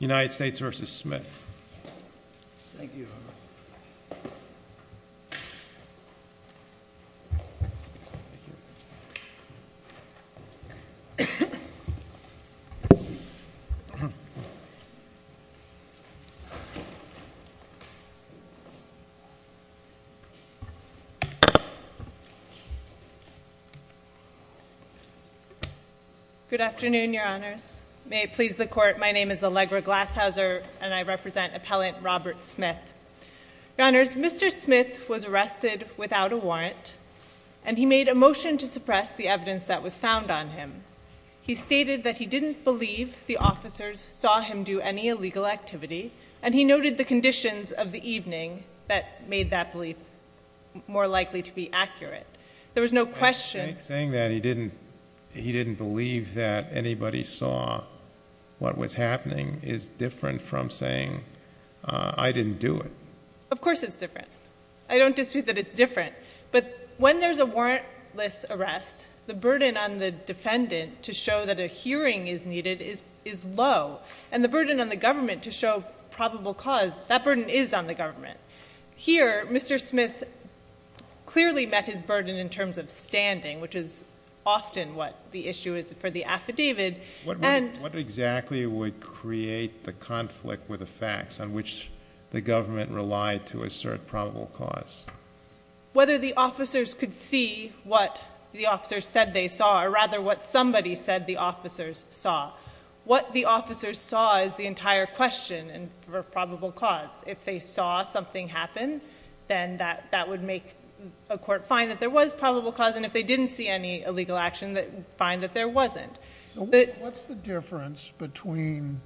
United States v. Smith. Good afternoon, Your Honors. May it please the Court, my name is Allegra Glasshauser and I represent Appellant Robert Smith. Your Honors, Mr. Smith was arrested without a warrant and he made a motion to suppress the evidence that was found on him. He stated that he didn't believe the officers saw him do any illegal activity and he noted the conditions of the evening that made that belief more likely to be accurate. There was no question. Saying that he didn't, he didn't believe that anybody saw what was happening is different from saying I didn't do it. Of course it's different. I don't dispute that it's different. But when there's a warrantless arrest, the burden on the defendant to show that a hearing is needed is low and the burden on the government to show probable cause, that burden is on the government. Here, Mr. Smith clearly met his burden in terms of standing, which is often what the issue is for the affidavit. What exactly would create the conflict with the facts on which the government relied to assert probable cause? Whether the officers could see what the officers said they saw, or rather what somebody said the officers saw. What the officers saw is the entire question for probable cause. If they saw something happen, then that would make a court find that there was probable cause and if they didn't see any illegal action, find that there wasn't. What's the difference between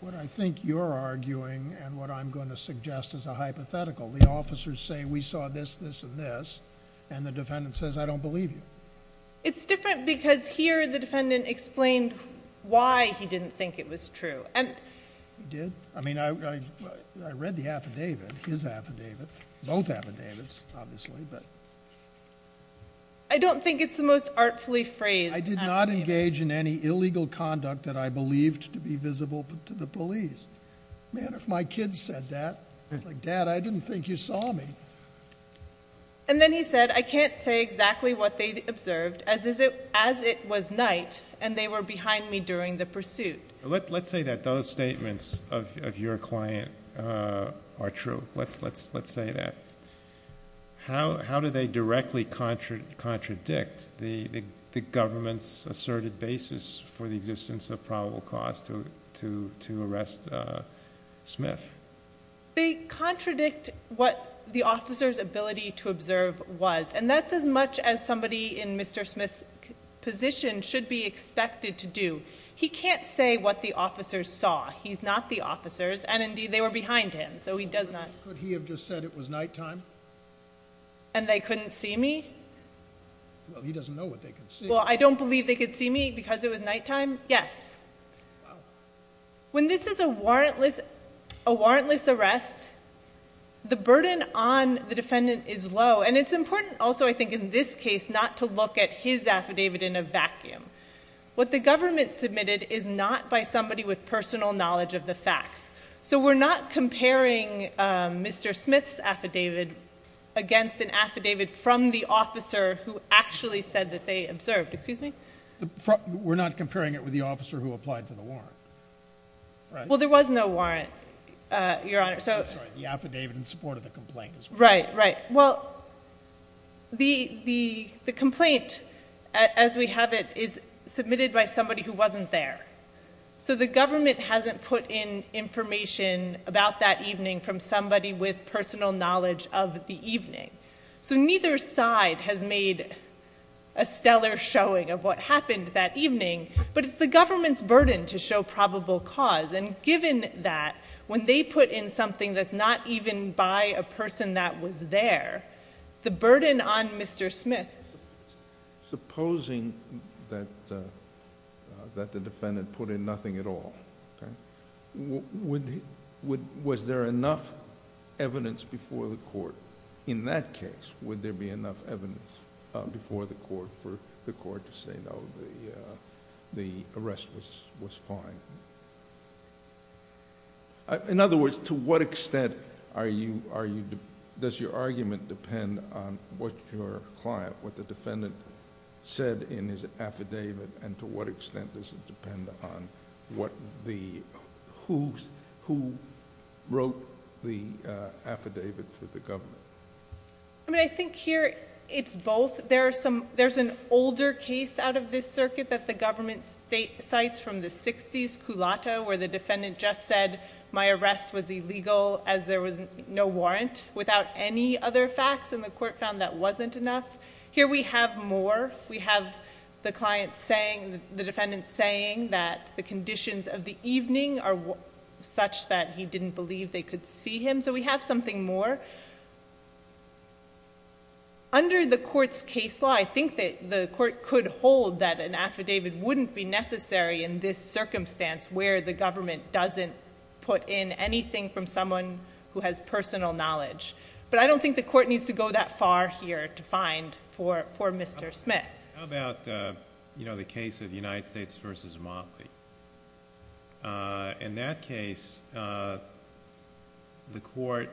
what I think you're arguing and what I'm going to suggest as a hypothetical? The officers say we saw this, this, and this, and the defendant says I don't believe you. It's different because here the defendant explained why he didn't think it was true. He did. I mean, I read the affidavit, his affidavit, both affidavits, obviously. I don't think it's the most artfully phrased affidavit. I did not engage in any illegal conduct that I believed to be visible to the police. Man, if my kids said that, I'd be like, Dad, I didn't think you saw me. And then he said, I can't say exactly what they observed as it was night and they were behind me during the pursuit. Let's say that those statements of your client are true. Let's say that. How do they directly contradict the government's asserted basis for the existence of probable cause to arrest Smith? They contradict what the officer's ability to observe was. And that's as much as somebody in Mr. Smith's position should be expected to do. He can't say what the officers saw. He's not the officers. And indeed, they were behind him. So he does not. Could he have just said it was nighttime? And they couldn't see me? Well, he doesn't know what they could see. Well, I don't believe they could see me because it was nighttime. Yes. When this is a warrantless arrest, the burden on the defendant is low. And it's important also, I think, in this case, not to look at his affidavit in a vacuum. What the government submitted is not by somebody with personal knowledge of the facts. So we're not comparing Mr. Smith's affidavit against an affidavit from the officer who actually said that they observed, excuse me? We're not comparing it with the officer who applied for the warrant, right? Well, there was no warrant, Your Honor. I'm sorry. The affidavit in support of the complaint is warranted. Right, right. Well, the complaint, as we have it, is submitted by somebody who wasn't there. So the government hasn't put in information about that evening from somebody with personal knowledge of the evening. So neither side has made a stellar showing of what happened that evening. But it's the government's burden to show probable cause. And given that, when they put in something that's not even by a person that was there, the burden on Mr. Smith. Supposing that the defendant put in nothing at all, was there enough evidence before the court in that case, would there be enough evidence before the court for the court to say, no, the arrest was fine? In other words, to what extent does your argument depend on what your client, what the defendant said in his affidavit, and to what extent does it depend on who wrote the affidavit for the government? I mean, I think here it's both. There's an older case out of this circuit that the government cites from the 60s, Culotta, where the defendant just said my arrest was illegal as there was no warrant without any other facts. And the court found that wasn't enough. Here we have more. We have the defendant saying that the conditions of the evening are such that he didn't believe they could see him. So we have something more. Under the court's case law, I think that the court could hold that an affidavit wouldn't be necessary in this circumstance where the government doesn't put in anything from someone who has personal knowledge. But I don't think the court needs to go that far here to find for Mr. Smith. How about the case of the United States versus Motley? In that case, the court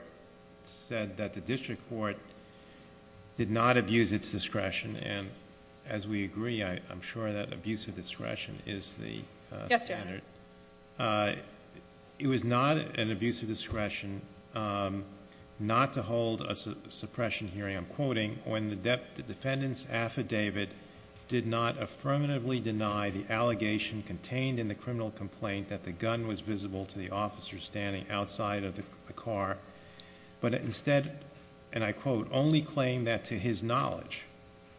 said that the district court did not abuse its discretion. And as we agree, I'm sure that abuse of discretion is the standard. It was not an abuse of discretion not to hold a suppression hearing. I'm quoting, when the defendant's affidavit did not affirmatively deny the allegation contained in the criminal complaint that the gun was visible to the officer standing outside of the car. But instead, and I quote, only claim that to his knowledge,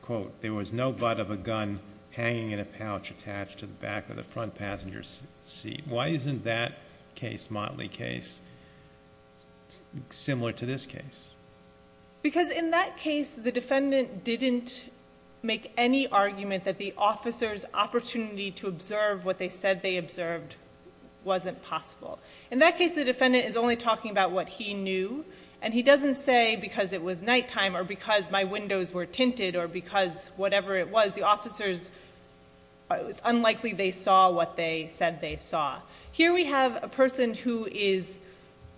quote, there was no but of a gun hanging in a pouch attached to the back of the front passenger's seat. Why isn't that case, Motley case, similar to this case? Because in that case, the defendant didn't make any argument that the officer's opportunity to observe what they said they observed wasn't possible. In that case, the defendant is only talking about what he knew. And he doesn't say because it was nighttime or because my windows were tinted or because whatever it was, the officers, it was unlikely they saw what they said they saw. Here we have a person who is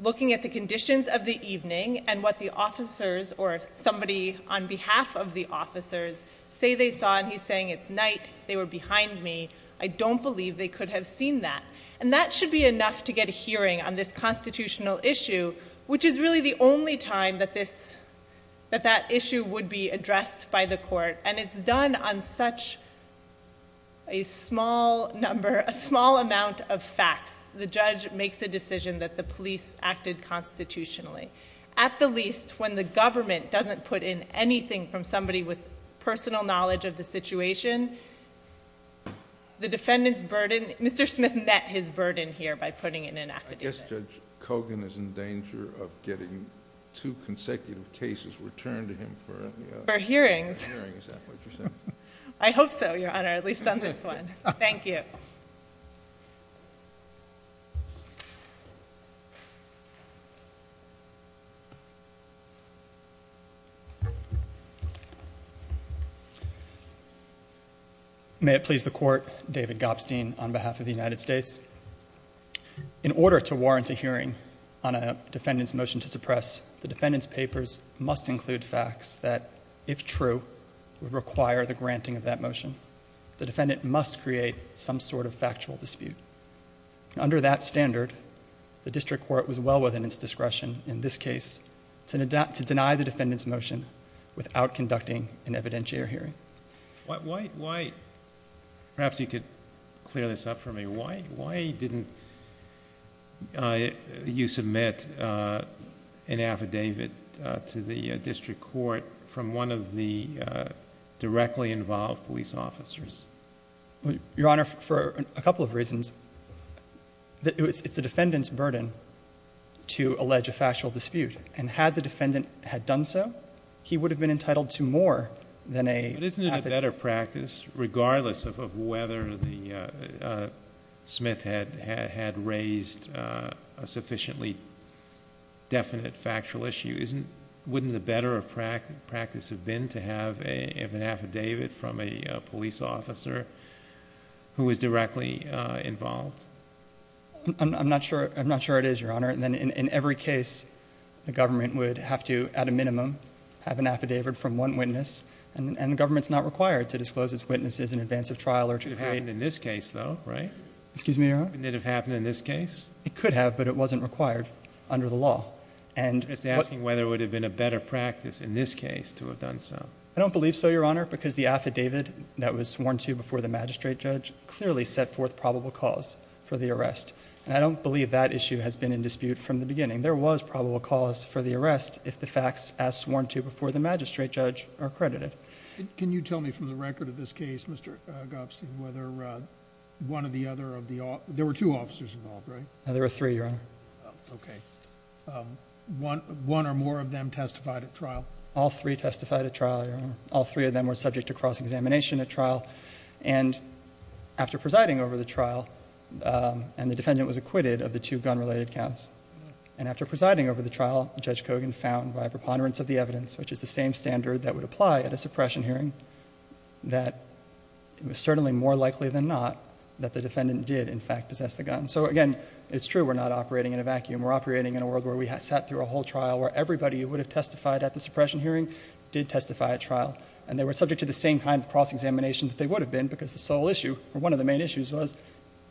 looking at the conditions of the evening and what the officers or somebody on behalf of the officers say they saw. And he's saying, it's night, they were behind me. I don't believe they could have seen that. And that should be enough to get a hearing on this constitutional issue, which is really the only time that that issue would be addressed by the court. And it's done on such a small number, a small amount of facts. The judge makes a decision that the police acted constitutionally. At the least, when the government doesn't put in anything from somebody with personal knowledge of the situation, the defendant's burden, Mr. Smith met his burden here by putting in an affidavit. I guess Judge Kogan is in danger of getting two consecutive cases returned to him for- For hearings. For hearings, is that what you're saying? I hope so, Your Honor, at least on this one. Thank you. May it please the court, David Gopstein on behalf of the United States. In order to warrant a hearing on a defendant's motion to suppress, the defendant's papers must include facts that, if true, would require the granting of that motion. The defendant must create some sort of factual dispute. Under that standard, the district court was well within its discretion in this case to deny the defendant's motion without conducting an evidentiary hearing. Why, perhaps you could clear this up for me. Why didn't you submit an affidavit to the district court from one of the directly involved police officers? Your Honor, for a couple of reasons. It's the defendant's burden to allege a factual dispute. And had the defendant had done so, he would have been entitled to more than a- But isn't it a better practice, regardless of whether the Smith had raised a sufficiently definite factual issue, wouldn't the better practice have been to have an affidavit from a police officer who was directly involved? I'm not sure it is, Your Honor. And then in every case, the government would have to, at a minimum, have an affidavit from one witness. And the government's not required to disclose its witnesses in advance of trial or to- It could have happened in this case, though, right? Excuse me, Your Honor? Wouldn't it have happened in this case? It could have, but it wasn't required under the law. And- I'm just asking whether it would have been a better practice in this case to have done so. I don't believe so, Your Honor, because the affidavit that was sworn to before the magistrate judge clearly set forth probable cause for the arrest. And I don't believe that issue has been in dispute from the beginning. There was probable cause for the arrest if the facts as sworn to before the magistrate judge are credited. Can you tell me from the record of this case, Mr. Gopstein, whether one or the other of the- there were two officers involved, right? No, there were three, Your Honor. Okay, one or more of them testified at trial? All three testified at trial, Your Honor. All three of them were subject to cross-examination at trial. And after presiding over the trial, and the defendant was acquitted of the two gun-related counts. And after presiding over the trial, Judge Kogan found, by preponderance of the evidence, which is the same standard that would apply at a suppression hearing, that it was certainly more likely than not that the defendant did, in fact, possess the gun. So again, it's true we're not operating in a vacuum. We're operating in a world where we sat through a whole trial, where everybody who would have testified at the suppression hearing did testify at trial. And they were subject to the same kind of cross-examination that they would have been, because the sole issue, or one of the main issues was,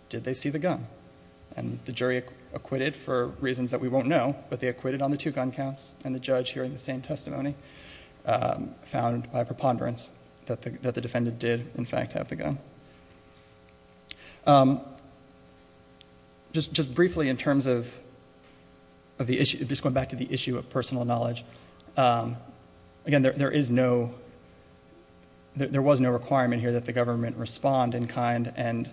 did they see the gun? And the jury acquitted for reasons that we won't know, but they acquitted on the two gun counts. And the judge, hearing the same testimony, found, by preponderance, that the defendant did, in fact, have the gun. Just briefly, in terms of the issue, just going back to the issue of personal knowledge. Again, there is no, there was no requirement here that the government respond in kind, and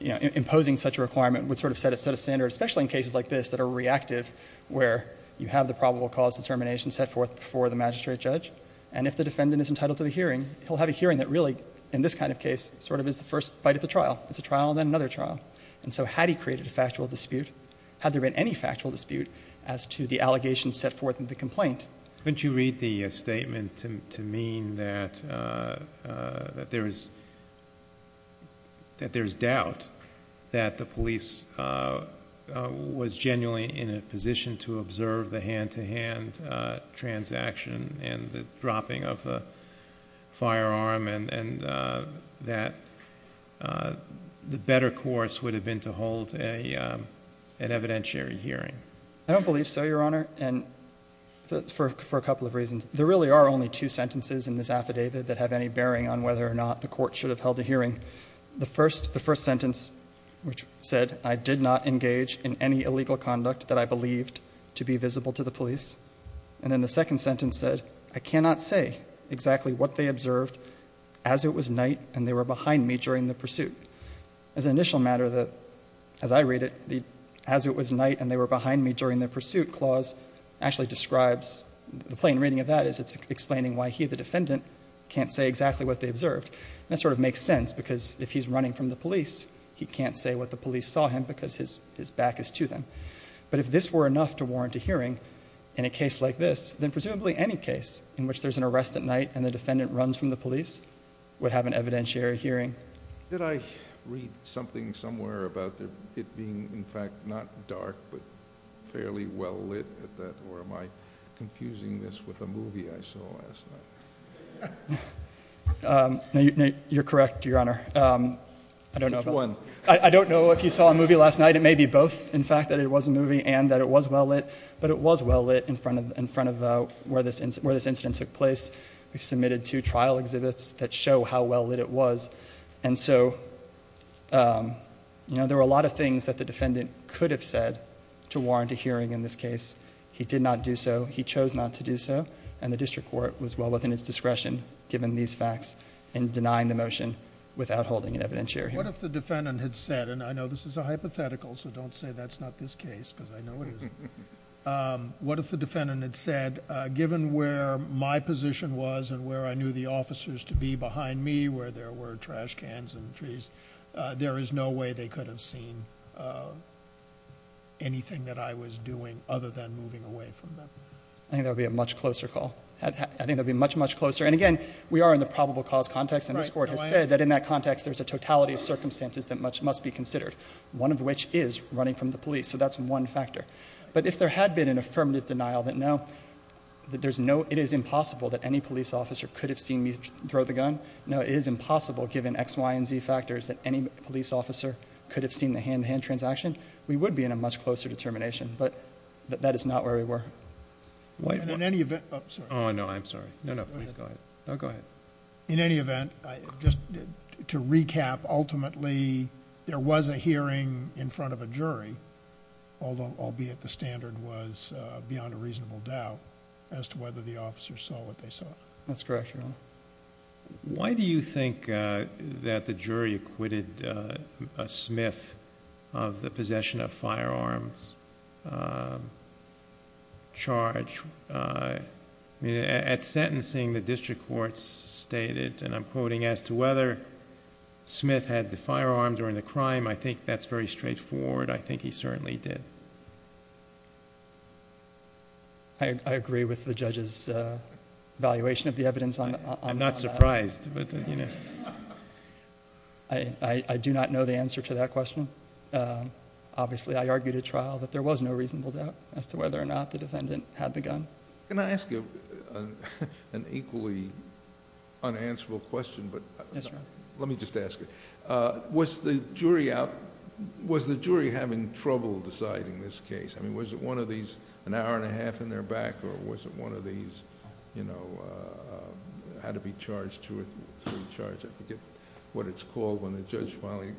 imposing such a requirement would sort of set a standard, especially in cases like this that are reactive, where you have the probable cause determination set forth before the magistrate judge. And if the defendant is entitled to the hearing, he'll have a hearing that really, in this kind of case, sort of is the first bite of the trial. It's a trial, then another trial. And so had he created a factual dispute, had there been any factual dispute as to the allegations set forth in the complaint. Don't you read the statement to mean that there is, that there is doubt that the police was genuinely in a position to observe the hand-to-hand transaction, and the dropping of a firearm, and that the better course would have been to hold an evidentiary hearing? I don't believe so, Your Honor, and for a couple of reasons. There really are only two sentences in this affidavit that have any bearing on whether or not the court should have held a hearing. The first sentence, which said, I did not engage in any illegal conduct that I believed to be visible to the police. And then the second sentence said, I cannot say exactly what they observed as it was night and they were behind me during the pursuit. As an initial matter, as I read it, as it was night and they were behind me during their pursuit clause, actually describes, the plain reading of that is it's explaining why he, the defendant, can't say exactly what they observed. That sort of makes sense because if he's running from the police, he can't say what the police saw him because his back is to them. But if this were enough to warrant a hearing in a case like this, then presumably any case in which there's an arrest at night and the defendant runs from the police would have an evidentiary hearing. Did I read something somewhere about it being, in fact, not dark but fairly well lit at that? Or am I confusing this with a movie I saw last night? No, you're correct, Your Honor. I don't know if you saw a movie last night. It may be both, in fact, that it was a movie and that it was well lit. But it was well lit in front of where this incident took place. We've submitted two trial exhibits that show how well lit it was. And so, there are a lot of things that the defendant could have said to warrant a hearing in this case. He did not do so. He chose not to do so. And the district court was well within its discretion, given these facts, in denying the motion without holding an evidentiary hearing. What if the defendant had said, and I know this is a hypothetical, so don't say that's not this case, because I know it isn't. What if the defendant had said, given where my position was and where I knew the officers to be behind me, where there were trash cans and trees, there is no way they could have seen anything that I was doing other than moving away from them. I think that would be a much closer call. I think that would be much, much closer. And again, we are in the probable cause context. And this court has said that in that context, there's a totality of circumstances that must be considered, one of which is running from the police. So that's one factor. But if there had been an affirmative denial that no, it is impossible that any police officer could have seen me throw the gun. No, it is impossible, given X, Y, and Z factors, that any police officer could have seen the hand-to-hand transaction. We would be in a much closer determination, but that is not where we were. And in any event, I'm sorry. No, I'm sorry. No, no, please go ahead. No, go ahead. In any event, just to recap, ultimately, there was a hearing in front of a jury, albeit the standard was beyond a reasonable doubt, as to whether the officers saw what they saw. That's correct, Your Honor. Why do you think that the jury acquitted a Smith of the possession of firearms charge? At sentencing, the district courts stated, and I'm quoting, as to whether Smith had the firearm during the crime. I think that's very straightforward. I think he certainly did. I agree with the judge's evaluation of the evidence on that. I'm not surprised, but you know. I do not know the answer to that question. Obviously, I argued at trial that there was no reasonable doubt as to whether or not the defendant had the gun. Can I ask you an equally unanswerable question? Yes, Your Honor. Let me just ask it. Was the jury having trouble deciding this case? I mean, was it one of these, an hour and a half in their back, or was it one of these, had to be charged two or three charges? I forget what it's called when the judge finally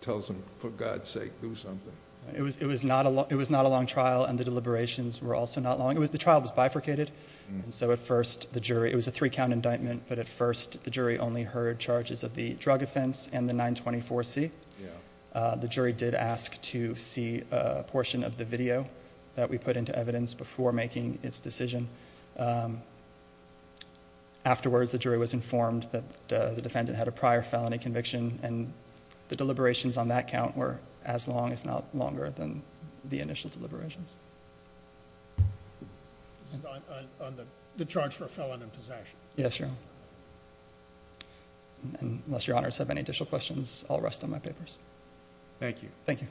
tells them, for God's sake, do something. It was not a long trial, and the deliberations were also not long. The trial was bifurcated, and so at first, the jury, it was a three count indictment, but at first, the jury only heard charges of the drug offense and the 924C. The jury did ask to see a portion of the video that we put into evidence before making its decision. Afterwards, the jury was informed that the defendant had a prior felony conviction, and the deliberations on that count were as long, if not longer, than the initial deliberations. This is on the charge for a felon in possession. Yes, Your Honor, and unless Your Honors have any additional questions, I'll rest on my papers. Thank you. Thank you.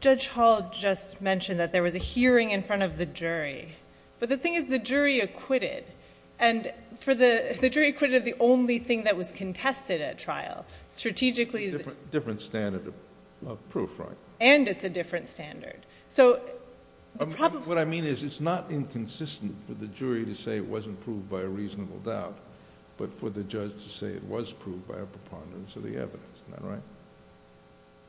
Judge Hall just mentioned that there was a hearing in front of the jury, but the thing is the jury acquitted, and for the jury acquitted, the only thing that was contested at trial, strategically... Different standard of proof, right? And it's a different standard. What I mean is, it's not inconsistent for the jury to say it wasn't proved by a reasonable doubt, but for the judge to say it was proved by a preponderance of the evidence, am I right?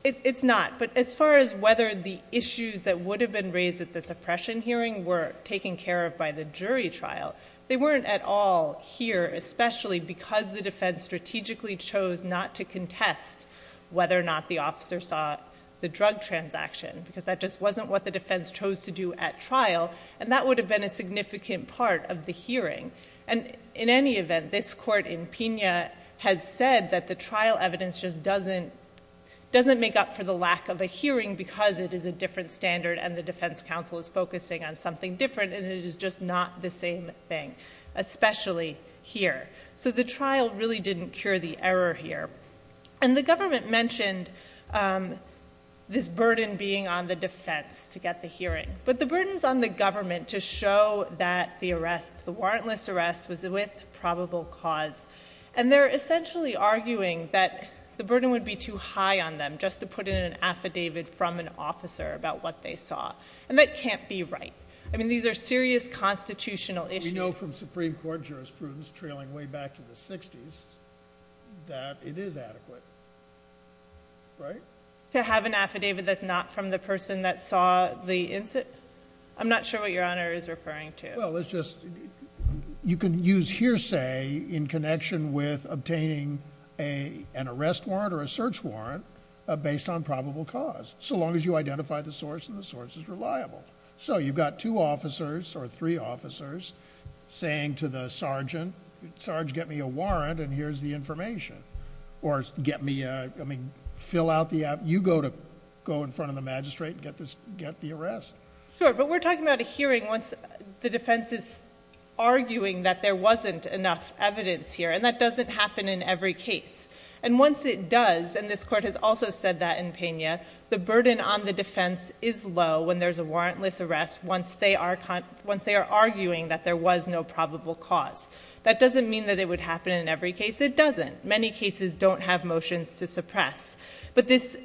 It's not, but as far as whether the issues that would have been raised at the suppression hearing were taken care of by the jury trial, they weren't at all here, especially because the defense strategically chose not to contest whether or not the officer saw the drug transaction, because that just wasn't what the defense chose to do at trial, and that would have been a significant part of the hearing. And, in any event, this court in Pena has said that the trial evidence just doesn't make up for the lack of a hearing, because it is a different standard and the defense counsel is focusing on something different, and it is just not the same thing, especially here. So, the trial really didn't cure the error here. And the government mentioned this burden being on the defense to get the hearing, but the burden's on the government to show that the arrest, the warrantless arrest, was with probable cause. And they're essentially arguing that the burden would be too high on them just to put in an affidavit from an officer about what they saw, and that can't be right. I mean, these are serious constitutional issues. We know from Supreme Court jurisprudence trailing way back to the 60s that it is adequate, right? To have an affidavit that's not from the person that saw the incident? I'm not sure what Your Honor is referring to. Well, it's just you can use hearsay in connection with obtaining an arrest warrant or a search warrant based on probable cause, so long as you identify the source and the source is reliable. So, you've got two officers or three officers saying to the sergeant, Sarge, get me a warrant and here's the information. Or get me a... I mean, fill out the... you go in front of the magistrate and get the arrest. Sure, but we're talking about a hearing once the defense is arguing that there wasn't enough evidence here, and that doesn't happen in every case. And once it does, and this court has also said that in Pena, the burden on the defense is low when there's a warrantless arrest once they are arguing that there was no probable cause. That doesn't mean that it would happen in every case. It doesn't. Many cases don't have motions to suppress. But this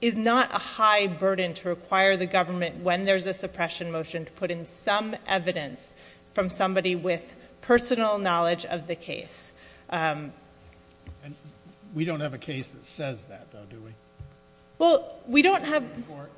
is not a high burden to require the government when there's a suppression motion to put in some evidence from somebody with personal knowledge of the case. And we don't have a case that says that, though, do we? Well, we don't have... In the Supreme Court?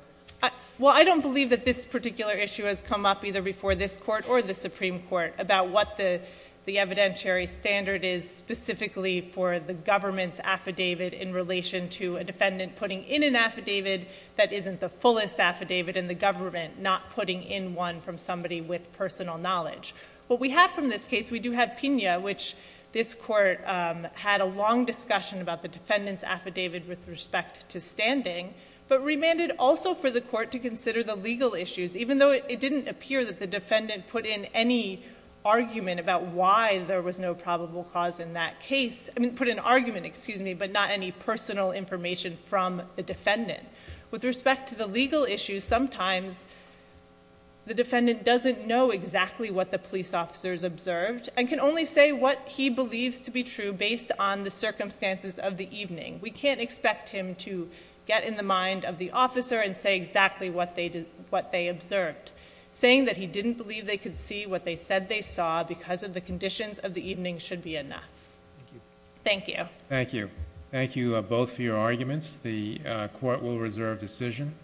Well, I don't believe that this particular issue has come up either before this court or the Supreme Court about what the evidentiary standard is specifically for the government's affidavit in relation to a defendant putting in an affidavit that isn't the fullest affidavit in the government, not putting in one from somebody with personal knowledge. What we have from this case, we do have Pena, which this court had a long discussion about the defendant's affidavit with respect to standing, but remanded also for the court to consider the legal issues, even though it didn't appear that the defendant put in any argument about why there was no probable cause in that case. I mean, put an argument, excuse me, but not any personal information from the defendant. With respect to the legal issues, sometimes the defendant doesn't know exactly what the police officers observed, and can only say what he believes to be true based on the circumstances of the evening. We can't expect him to get in the mind of the officer and say exactly what they observed. Saying that he didn't believe they could see what they said they saw because of the conditions of the evening should be enough. Thank you. Thank you. Thank you both for your arguments. The court will reserve decision.